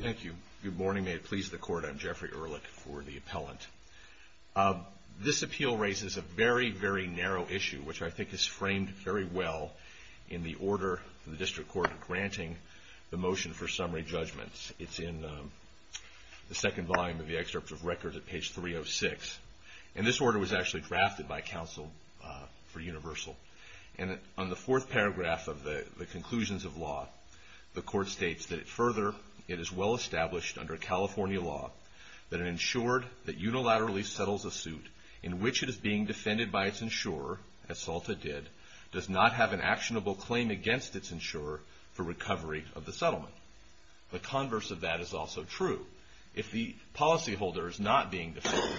Thank you. Good morning. May it please the court. I'm Jeffrey Ehrlich for the appellant. This appeal raises a very, very narrow issue, which I think is framed very well in the order of the District Court granting the motion for summary judgments. It's in the second volume of the excerpt of record at page 306. And this order was actually drafted by counsel for UNIVERSAL. And on the fourth paragraph of the conclusions of law, the court states that it further, it is well established under California law that an insured that unilaterally settles a suit in which it is being defended by its insurer, as Salta did, does not have an actionable claim against its insurer for recovery of the settlement. The converse of that is also true. If the policyholder is not being defended,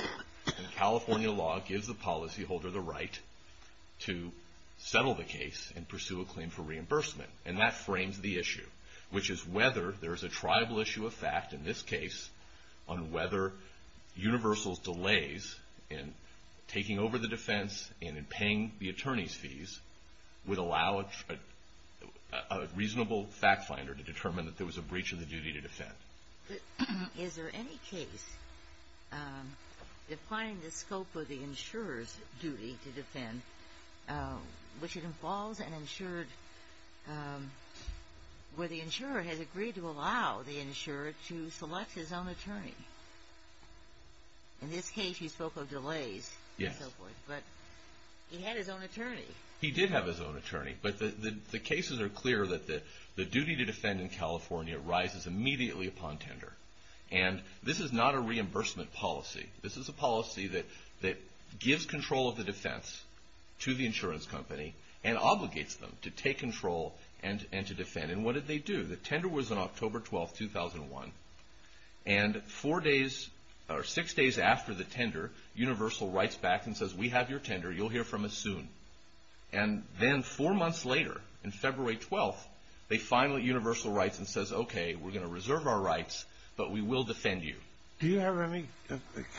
California law gives the policyholder the right to settle the case and pursue a claim for reimbursement. And that frames the issue, which is whether there is a triable issue of fact, in this case, on whether UNIVERSAL's delays in taking over the defense and in paying the attorney's fees would allow a reasonable fact finder to determine that there was a breach of the duty to defend. But is there any case defining the scope of the insurer's duty to defend which it involves an insured, where the insurer has agreed to allow the insurer to select his own attorney? In this case, he spoke of delays and so forth. But he had his own attorney. He did have his own attorney. But the cases are clear that the duty to defend in California rises immediately upon tender. And this is not a reimbursement policy. This is a policy that gives control of the defense to the insurance company and obligates them to take control and to defend. And what did they do? The tender was on October 12, 2001. And four days or six days after the tender, UNIVERSAL writes back and says, we have your tender. You'll hear from us soon. And then four months later, in February 12, they finally, UNIVERSAL writes and says, okay, we're going to reserve our rights, but we will defend you. Do you have any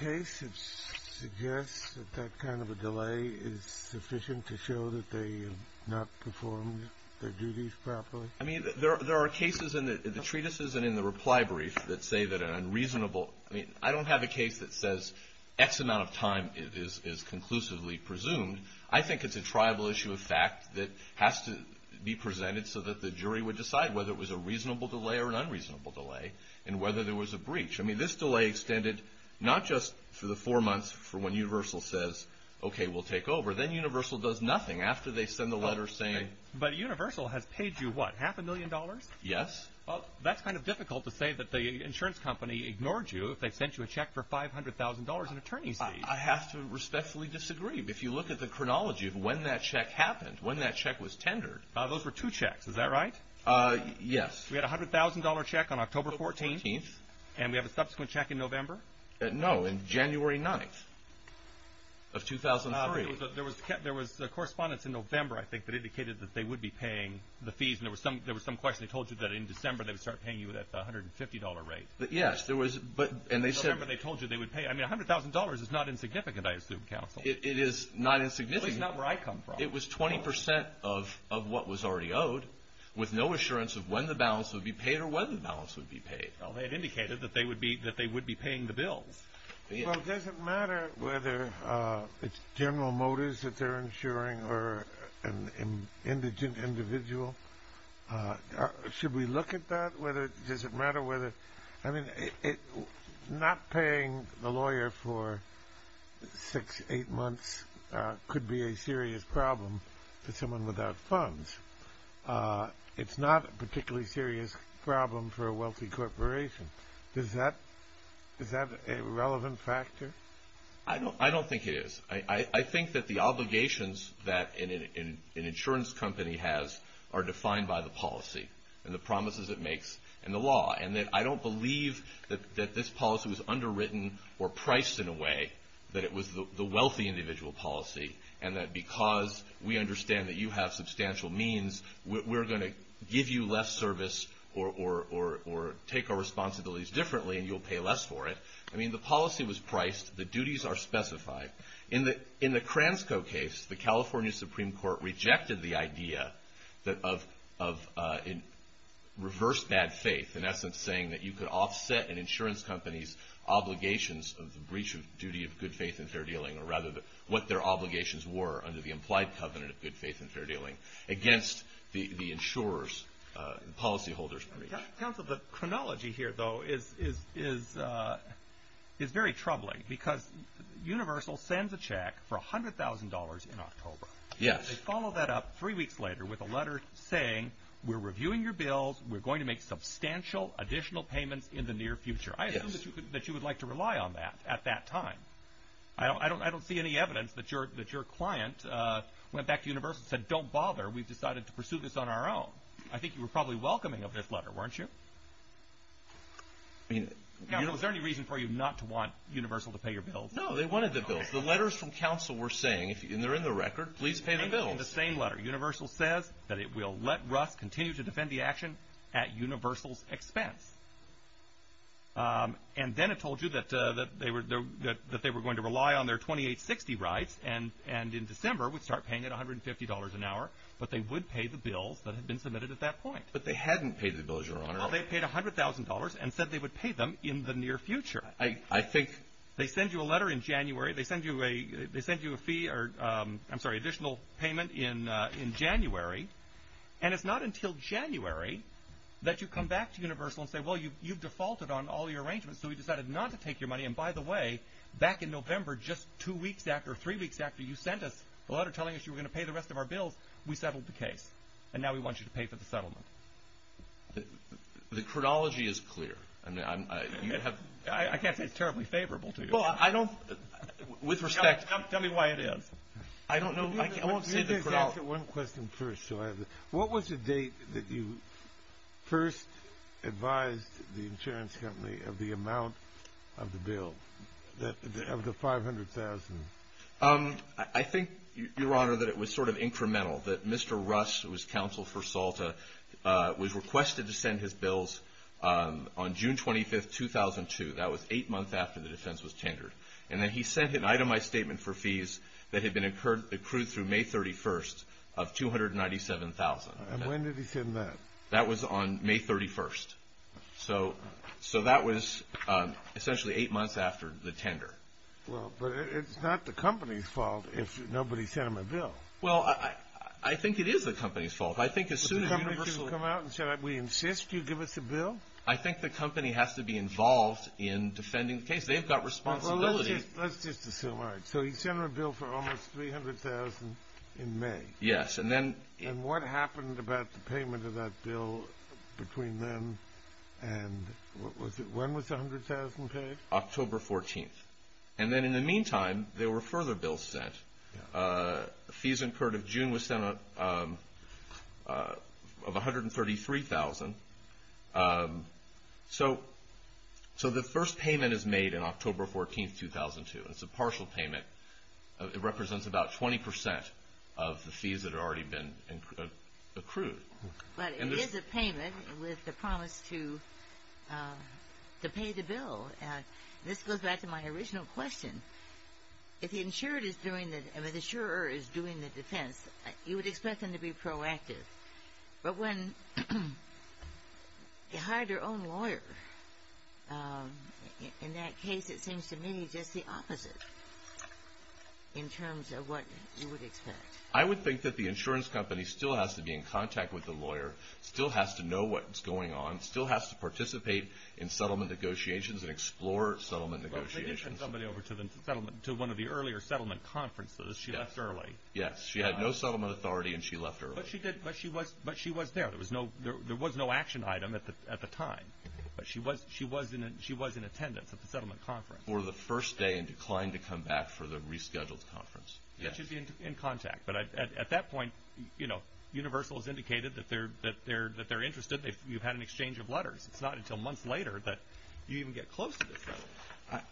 case that suggests that that kind of a delay is sufficient to show that they have not performed their duties properly? I mean, there are cases in the treatises and in the reply brief that say that an unreasonable – I mean, I don't have a case that says X amount of time is conclusively presumed. I think it's a tribal issue of fact that has to be presented so that the jury would decide whether it was a reasonable delay or an unreasonable delay and whether there was a breach. I mean, this delay extended not just for the four months for when UNIVERSAL says, okay, we'll take over. Then UNIVERSAL does nothing after they send the letter saying – But UNIVERSAL has paid you what, half a million dollars? Yes. Well, that's kind of difficult to say that the insurance company ignored you if they sent you a check for $500,000 in attorney's fees. I have to respectfully disagree. If you look at the chronology of when that check happened, when that check was tendered – Those were two checks, is that right? Yes. We had a $100,000 check on October 14th. And we have a subsequent check in November? No, in January 9th of 2003. There was correspondence in November, I think, that indicated that they would be paying the fees and there was some question. They told you that in December they would start paying you at the $150 rate. Yes, there was – In November they told you they would pay – I mean, $100,000 is not insignificant, I assume, counsel. It is not insignificant. Well, it's not where I come from. It was 20 percent of what was already owed with no assurance of when the balance would be paid or when the balance would be paid. Well, they had indicated that they would be paying the bills. Well, does it matter whether it's General Motors that they're insuring or an indigent individual? Should we look at that? Does it matter whether – I mean, not paying the lawyer for six, eight months could be a serious problem to someone without funds. It's not a particularly serious problem for a wealthy corporation. Is that a relevant factor? I don't think it is. I think that the obligations that an insurance company has are defined by the policy and the promises it makes in the law. And that I don't believe that this policy was underwritten or priced in a way that it was the wealthy individual policy and that because we understand that you have substantial means, we're going to give you less service or take our responsibilities differently and you'll pay less for it. I mean, the policy was priced. The duties are specified. In the Cransco case, the California Supreme Court rejected the idea of reverse bad faith, in essence saying that you could offset an insurance company's obligations of the breach of duty of good faith and fair dealing against the insurer's, the policy holder's breach. Counsel, the chronology here, though, is very troubling because Universal sends a check for $100,000 in October. Yes. They follow that up three weeks later with a letter saying we're reviewing your bills, we're going to make substantial additional payments in the near future. Yes. I assume that you would like to rely on that at that time. I don't see any evidence that your client went back to Universal and said, don't bother, we've decided to pursue this on our own. I think you were probably welcoming of this letter, weren't you? I mean... Counsel, is there any reason for you not to want Universal to pay your bills? No, they wanted the bills. The letters from counsel were saying, if they're in the record, please pay the bills. They're in the same letter. Universal says that it will let Russ continue to defend the action at Universal's expense. And then it told you that they were going to rely on their 2860 rights and in December would start paying it $150 an hour, but they would pay the bills that had been submitted at that point. But they hadn't paid the bills, Your Honor. Well, they paid $100,000 and said they would pay them in the near future. I think... They send you a letter in January. They send you a fee or, I'm sorry, additional payment in January. And it's not until January that you come back to Universal and say, well, you've defaulted on all your arrangements, so we decided not to take your money. And by the way, back in November, just two weeks after, three weeks after you sent us a letter telling us you were going to pay the rest of our bills, we settled the case. And now we want you to pay for the settlement. The chronology is clear. I can't say it's terribly favorable to you. Well, I don't... With respect... Tell me why it is. I don't know. I won't say the chronology. Let me just answer one question first. What was the date that you first advised the insurance company of the amount of the bill, of the $500,000? I think, Your Honor, that it was sort of incremental, that Mr. Russ, who was counsel for SALTA, was requested to send his bills on June 25, 2002. That was eight months after the defense was tendered. And then he sent an itemized statement for fees that had been accrued through May 31 of $297,000. And when did he send that? That was on May 31. So that was essentially eight months after the tender. Well, but it's not the company's fault if nobody sent him a bill. Well, I think it is the company's fault. I think as soon as... Did the company issue come out and say, we insist you give us a bill? I think the company has to be involved in defending the case. They've got responsibility. Well, let's just assume. All right. So he sent them a bill for almost $300,000 in May. Yes, and then... And what happened about the payment of that bill between then and... When was the $100,000 paid? October 14. And then in the meantime, there were further bills sent. Fees incurred in June was sent of $133,000. So the first payment is made on October 14, 2002. It's a partial payment. It represents about 20% of the fees that had already been accrued. But it is a payment with the promise to pay the bill. This goes back to my original question. If the insurer is doing the defense, you would expect them to be proactive. But when they hired their own lawyer, in that case it seems to me just the opposite. In terms of what you would expect? I would think that the insurance company still has to be in contact with the lawyer, still has to know what's going on, still has to participate in settlement negotiations and explore settlement negotiations. Well, she did send somebody over to one of the earlier settlement conferences. She left early. Yes. She had no settlement authority and she left early. But she was there. There was no action item at the time. But she was in attendance at the settlement conference. For the first day and declined to come back for the rescheduled conference. She should be in contact. But at that point, Universal has indicated that they're interested. You've had an exchange of letters. It's not until months later that you even get close to the settlement.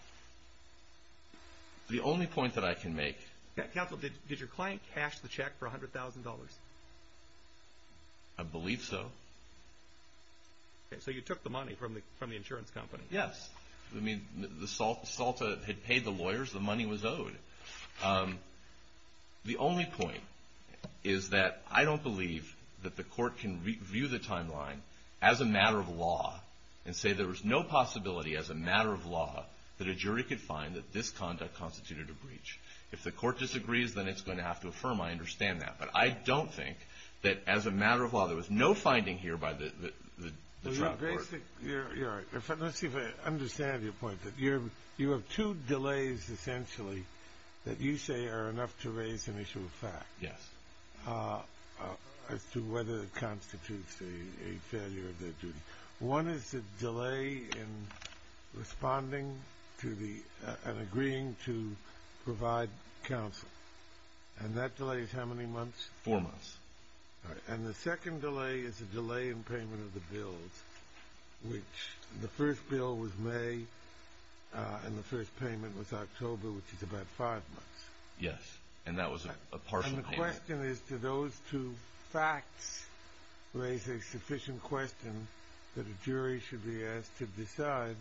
The only point that I can make... Counsel, did your client cash the check for $100,000? I believe so. So you took the money from the insurance company? Yes. The SALTA had paid the lawyers. The money was owed. The only point is that I don't believe that the court can review the timeline as a matter of law and say there was no possibility as a matter of law that a jury could find that this conduct constituted a breach. If the court disagrees, then it's going to have to affirm. I understand that. But I don't think that as a matter of law there was no finding here by the trial court. Let's see if I understand your point. You have two delays, essentially, that you say are enough to raise an issue of fact as to whether it constitutes a failure of their duty. One is the delay in responding and agreeing to provide counsel. And that delay is how many months? Four months. And the second delay is a delay in payment of the bills, which the first bill was May and the first payment was October, which is about five months. Yes. And that was a partial payment. And the question is, do those two facts raise a sufficient question that a jury should be asked to decide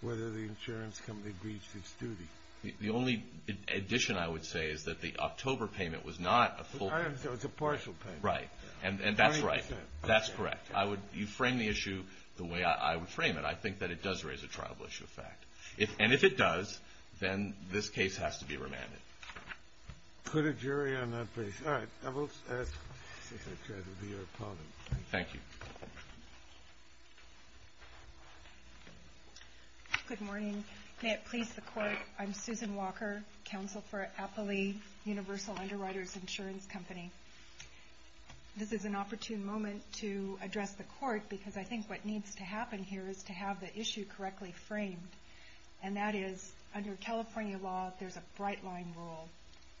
whether the insurance company breached its duty? The only addition I would say is that the October payment was not a full payment. I understand. It was a partial payment. Right. And that's right. That's correct. You frame the issue the way I would frame it. I think that it does raise a trial of issue of fact. And if it does, then this case has to be remanded. Put a jury on that basis. All right. I will try to be your opponent. Thank you. Good morning. May it please the Court, I'm Susan Walker, counsel for Appley Universal Underwriters Insurance Company. This is an opportune moment to address the Court because I think what needs to happen here is to have the issue correctly framed. And that is, under California law, there's a bright line rule.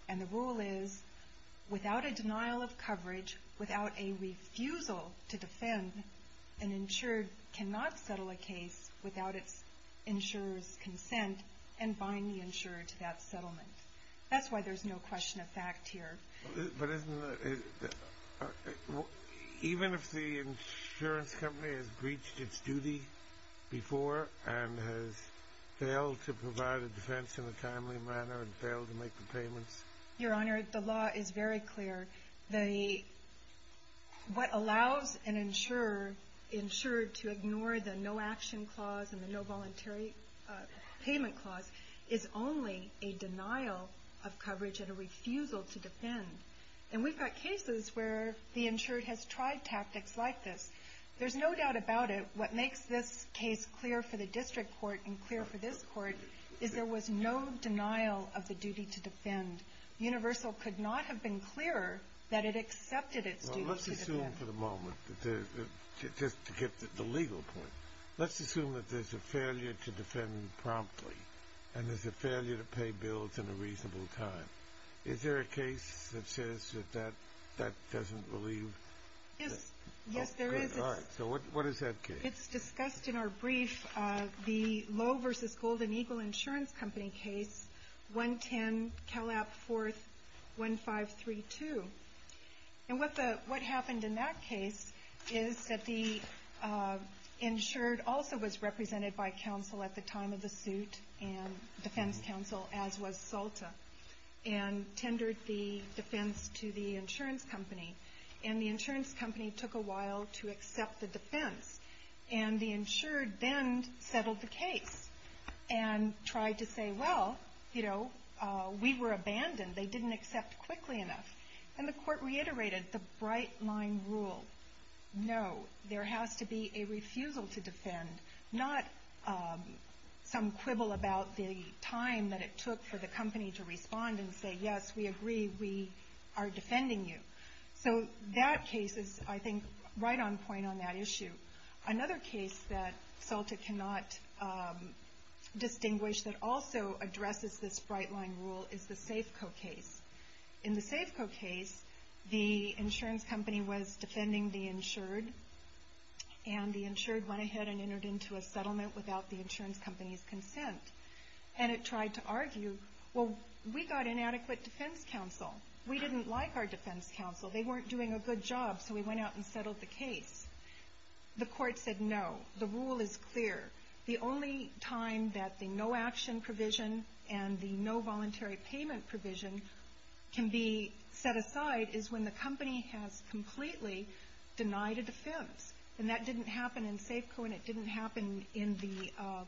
And the rule is, without a denial of coverage, without a refusal to defend, an insured cannot settle a case without its insurer's consent and bind the insurer to that settlement. That's why there's no question of fact here. But isn't the... Even if the insurance company has breached its duty before and has failed to provide a defense in a timely manner and failed to make the payments? Your Honor, the law is very clear. What allows an insurer to ignore the no-action clause and the no-voluntary payment clause is only a denial of coverage and a refusal to defend. And we've got cases where the insured has tried tactics like this. There's no doubt about it. What makes this case clear for the district court and clear for this court is there was no denial of the duty to defend. Universal could not have been clearer that it accepted its duty to defend. Well, let's assume for the moment, just to get the legal point, let's assume that there's a failure to defend promptly and there's a failure to pay bills in a reasonable time. Is there a case that says that that doesn't relieve... Yes. Yes, there is. So what is that case? It's discussed in our brief, the Lowe v. Golden Eagle Insurance Company case, 110 Calap 41532. And what happened in that case is that the insured also was represented by counsel at the time of the suit and defense counsel, as was Salta, and tendered the defense to the insurance company. And the insurance company took a while to accept the defense. And the insured then settled the case and tried to say, well, you know, we were abandoned. They didn't accept quickly enough. And the court reiterated the bright-line rule. No, there has to be a refusal to defend, not some quibble about the time that it took for the company to respond and say, yes, we agree, we are defending you. So that case is, I think, right on point on that issue. Another case that Salta cannot distinguish that also addresses this bright-line rule is the Safeco case. In the Safeco case, the insurance company was defending the insured and the insured went ahead and entered into a settlement without the insurance company's consent. And it tried to argue, well, we got inadequate defense counsel. We didn't like our defense counsel. They weren't doing a good job. So we went out and settled the case. The court said, no, the rule is clear. The only time that the no-action provision and the no-voluntary payment provision can be set aside is when the company has completely denied a defense. And that didn't happen in Safeco and it didn't happen in the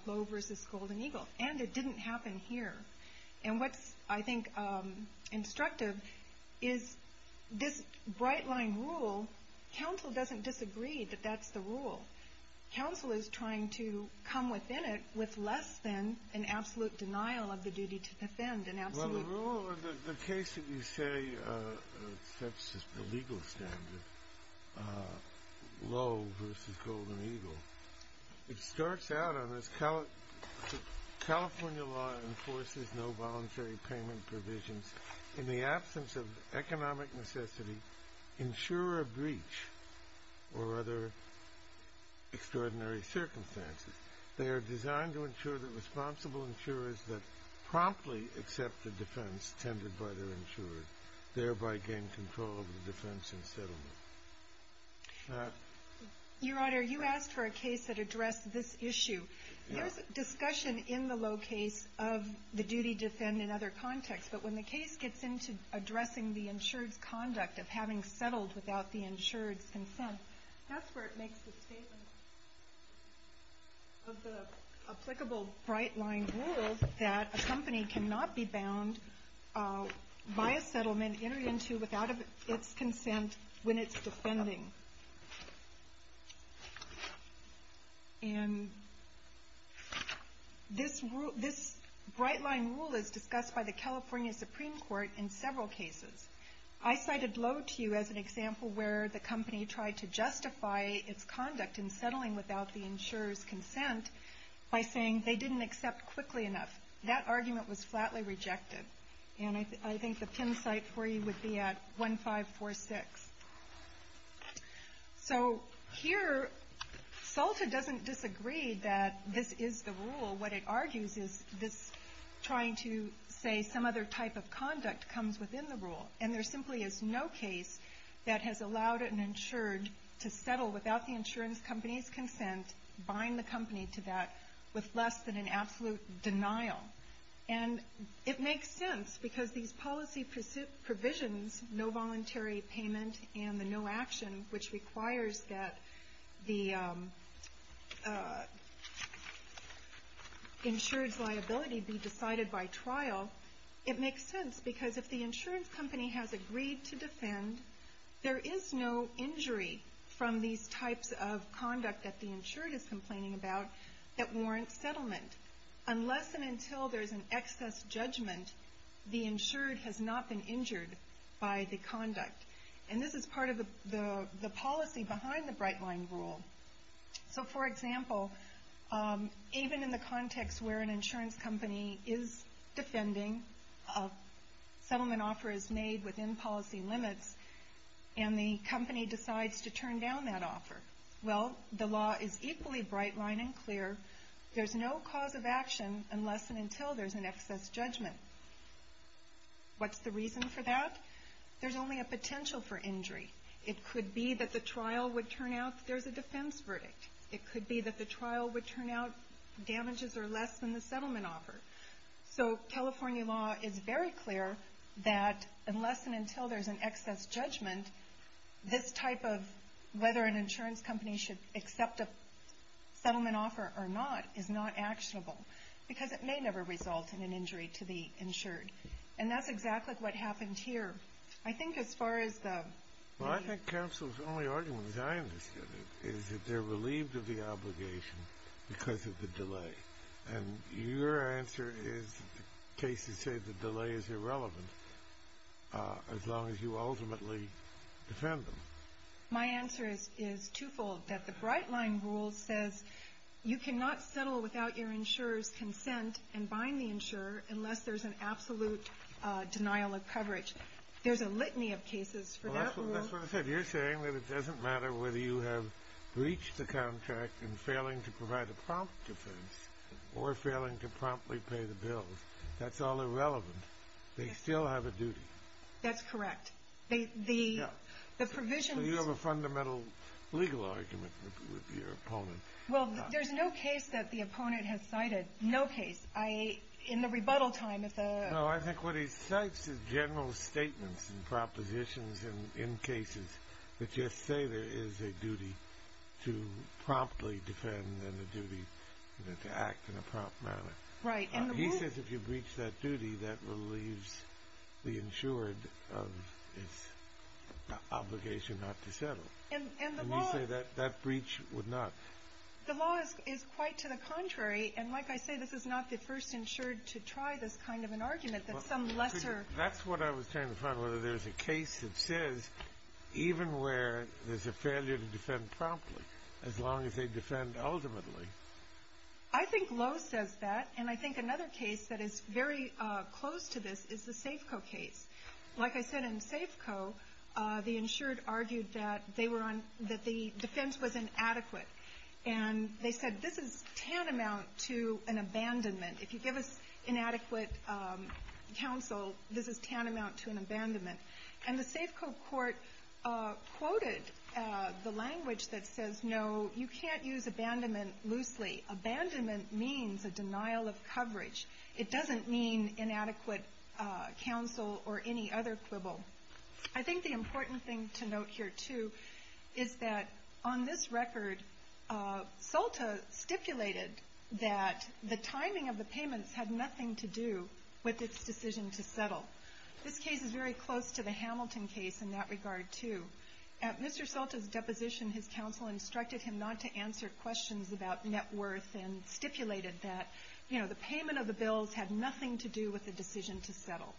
Globe v. Golden Eagle. And it didn't happen here. And what's, I think, instructive is this bright-line rule, counsel doesn't disagree that that's the rule. Counsel is trying to come within it with less than an absolute denial of the duty to defend. Well, the case that you say sets the legal standard, Lowe v. Golden Eagle, it starts out on this, California law enforces no-voluntary payment provisions in the absence of economic necessity, insurer breach, or other extraordinary circumstances. They are designed to ensure that responsible insurers that promptly accept the defense tended by their insurers, thereby gain control of the defense and settlement. Your Honor, you asked for a case that addressed this issue. There's discussion in the Lowe case of the duty to defend in other contexts, but when the case gets into addressing the insured's conduct of having settled without the insured's consent, that's where it makes the statement. Of the applicable bright-line rule that a company cannot be bound by a settlement entered into without its consent when it's defending. This bright-line rule is discussed by the California Supreme Court in several cases. I cited Lowe to you as an example where the company tried to justify its conduct in settling without the insurer's consent by saying they didn't accept quickly enough. That argument was flatly rejected. And I think the pin site for you would be at 1546. So here, SALTA doesn't disagree that this is the rule. What it argues is this trying to say some other type of conduct comes within the rule. And there simply is no case that has allowed an insured to settle without the insurance company's consent, bind the company to that with less than an absolute denial. And it makes sense because these policy provisions, no voluntary payment and the no action, which requires that the insured's liability be decided by trial, it makes sense because if the insurance company has agreed to defend, there is no injury from these types of conduct that the insured is complaining about that warrants settlement. Unless and until there's an excess judgment, the insured has not been injured by the conduct. And this is part of the policy behind the bright-line rule. So for example, even in the context where an insurance company is defending, a settlement offer is made within policy limits and the company decides to turn down that offer. Well, the law is equally bright-line and clear. There's no cause of action unless and until there's an excess judgment. What's the reason for that? There's only a potential for injury. It could be that the trial would turn out there's a defense verdict. It could be that the trial would turn out damages are less than the settlement offer. So California law is very clear that unless and until there's an excess judgment, this type of whether an insurance company should accept a settlement offer or not is not actionable because it may never result in an injury to the insured. And that's exactly what happened here. I think as far as the... Well, I think counsel's only argument, as I understood it, is that they're relieved of the obligation because of the delay. And your answer is, cases say the delay is irrelevant as long as you ultimately defend them. My answer is two-fold, that the bright-line rule says you cannot settle without your insurer's consent and bind the insurer unless there's an absolute denial of coverage. There's a litany of cases for that rule. That's what I said. You're saying that it doesn't matter whether you have breached the contract in failing to provide a prompt defense or failing to promptly pay the bills. That's all irrelevant. They still have a duty. That's correct. You have a fundamental legal argument with your opponent. Well, there's no case that the opponent has cited. No case. In the rebuttal time... No, I think what he cites is general statements and propositions in cases that just say there is a duty to promptly defend and a duty to act in a prompt manner. He says if you breach that duty, that relieves the insured of its obligation not to settle. And you say that breach would not? The law is quite to the contrary, and like I say, this is not the first insured to try this kind of an argument. That's what I was trying to find, whether there's a case that says even where there's a failure to defend promptly, as long as they defend ultimately. I think Lowe says that, and I think another case that is very close to this is the Safeco case. Like I said, in Safeco, the insured argued that the defense was inadequate. And they said this is tantamount to an abandonment. If you give us inadequate counsel, this is tantamount to an abandonment. And the Safeco court quoted the language that says, no, you can't use abandonment loosely. Abandonment means a denial of coverage. It doesn't mean inadequate counsel or any other quibble. I think the important thing to note here, too, is that on this record, Solta stipulated that the timing of the payments had nothing to do with its decision to settle. This case is very close to the Hamilton case in that regard, too. At Mr. Solta's deposition, his counsel instructed him not to answer questions about net worth and stipulated that the payment of the bills had nothing to do with the decision to settle.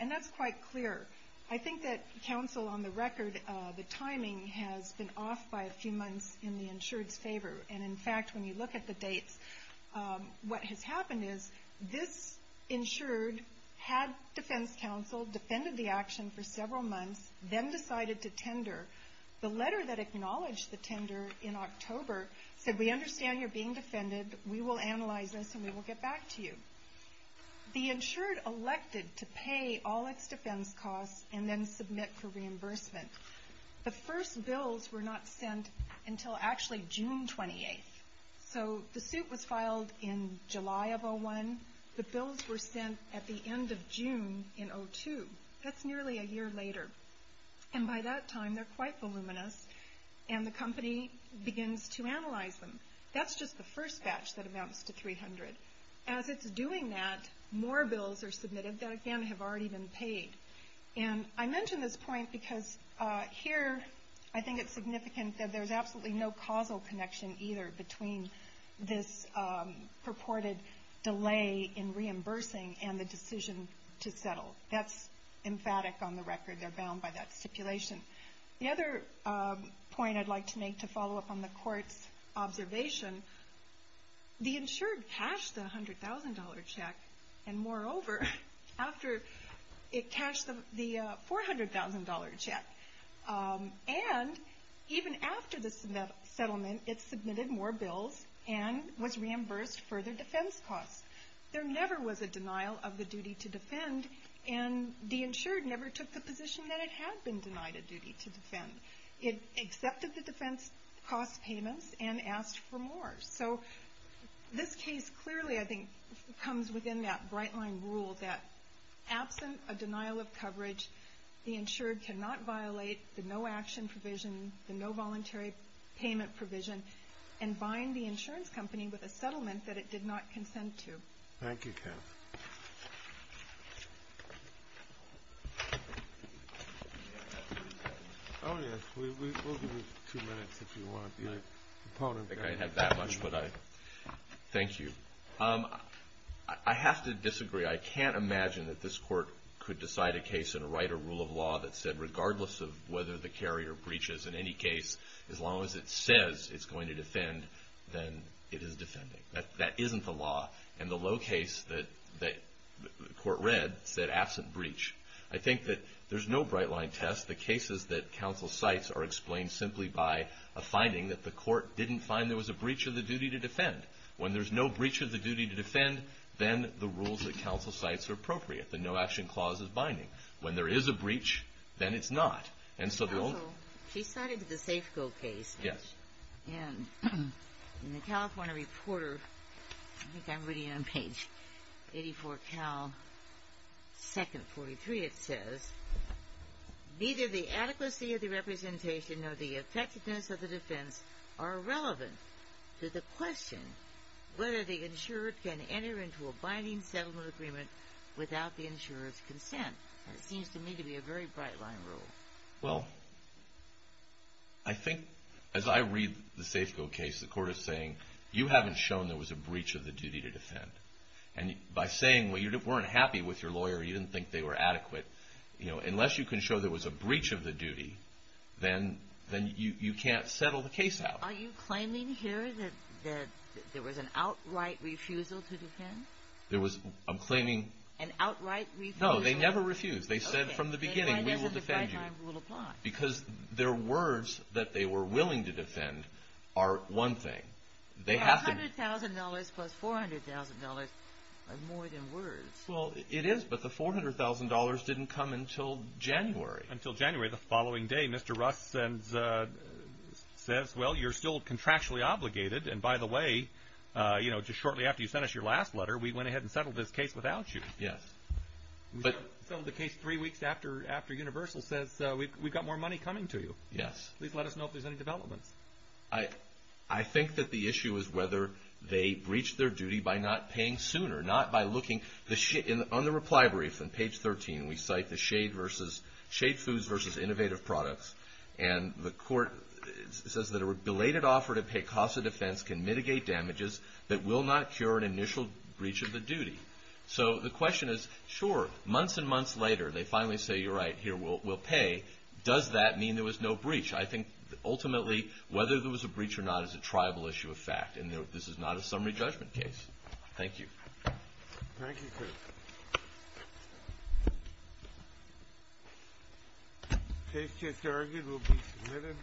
And that's quite clear. I think that counsel, on the record, the timing has been off by a few months in the insured's favor. And in fact, when you look at the dates, what has happened is this insured had defense counsel, defended the action for several months, then decided to tender. The letter that acknowledged the tender in October said, we understand you're being defended, we will analyze this and we will get back to you. The insured elected to pay all its defense costs and then submit for reimbursement. The first bills were not sent until actually June 28th. The suit was filed in July of 2001. The bills were sent at the end of June in 2002. That's nearly a year later. And by that time, they're quite voluminous and the company begins to analyze them. That's just the first batch that amounts to 300. As it's doing that, more bills are submitted that again, have already been paid. I mention this point because here, I think it's significant that there's absolutely no causal connection either between this purported delay in reimbursing and the decision to settle. That's emphatic on the record. They're bound by that stipulation. The other point I'd like to make to follow up on the court's observation, the insured cashed the $100,000 check and moreover, it cashed the $400,000 check. And even after the settlement, it submitted more bills and was reimbursed further defense costs. There never was a denial of the duty to defend and the insured never took the position that it had been denied a duty to defend. It accepted the defense cost payments and asked for more. So this case clearly, I think, comes within that bright line rule that absent a denial of coverage, the insured cannot violate the no action provision, the no voluntary payment provision and bind the insurance company with a settlement that it did not consent to. Thank you, Kath. We'll give you two minutes if you want. I think I have that much. Thank you. I have to disagree. I can't imagine that this court could decide a case in a right or rule of law that said regardless of whether the carrier breaches in any case, as long as it says it's going to defend, then it is defending. That isn't the law. And the low case that the court read said absent breach. I think that there's no bright line test. The cases that counsel cites are explained simply by a finding that the court didn't find there was a breach of the duty to defend. When there's no breach of the duty to defend, then the rules that counsel cites are appropriate. The no action clause is binding. When there is a breach, then it's not. She cited the Safeco case. In the California Reporter, I think I'm reading it on page 84, second 43, it says, neither the adequacy of the representation nor the effectiveness of the defense are relevant to the question whether the insurer can enter into a binding settlement agreement without the insurer's consent. It seems to me to be a very bright line rule. Well, I think as I read the Safeco case, the court is saying, you haven't shown there was a breach of the duty to defend. By saying you weren't happy with your lawyer, you didn't think they were adequate, unless you can show there was a breach of the duty, then you can't settle the case out. Are you claiming here that there was an outright refusal to defend? An outright refusal? No, they never refused. They said from the beginning, we will defend you. Because their words that they were willing to defend are one thing. $100,000 plus $400,000 are more than words. Well, it is, but the $400,000 didn't come until January. Until January, the following day, Mr. Rust says, well, you're still contractually obligated, and by the way, just shortly after you sent us your last letter, we went ahead and settled this case without you. We settled the case three weeks after Universal says, we've got more money coming to you. Please let us know if there's any developments. I think that the issue is whether they breached their duty by not paying sooner, not by looking. On the reply brief, on page 13, we cite the Shade Foods versus Innovative Products, and the court says that a belated offer to pay costs of defense can mitigate damages that will not cure an initial breach of the duty. So the question is, sure, months and months later, they finally say, you're right, here, we'll pay. Does that mean there was no breach? I think, ultimately, whether there was a breach or not is a tribal issue of fact, and this is not a summary judgment case. Thank you. Thank you, sir. Case just argued. We'll be submitting.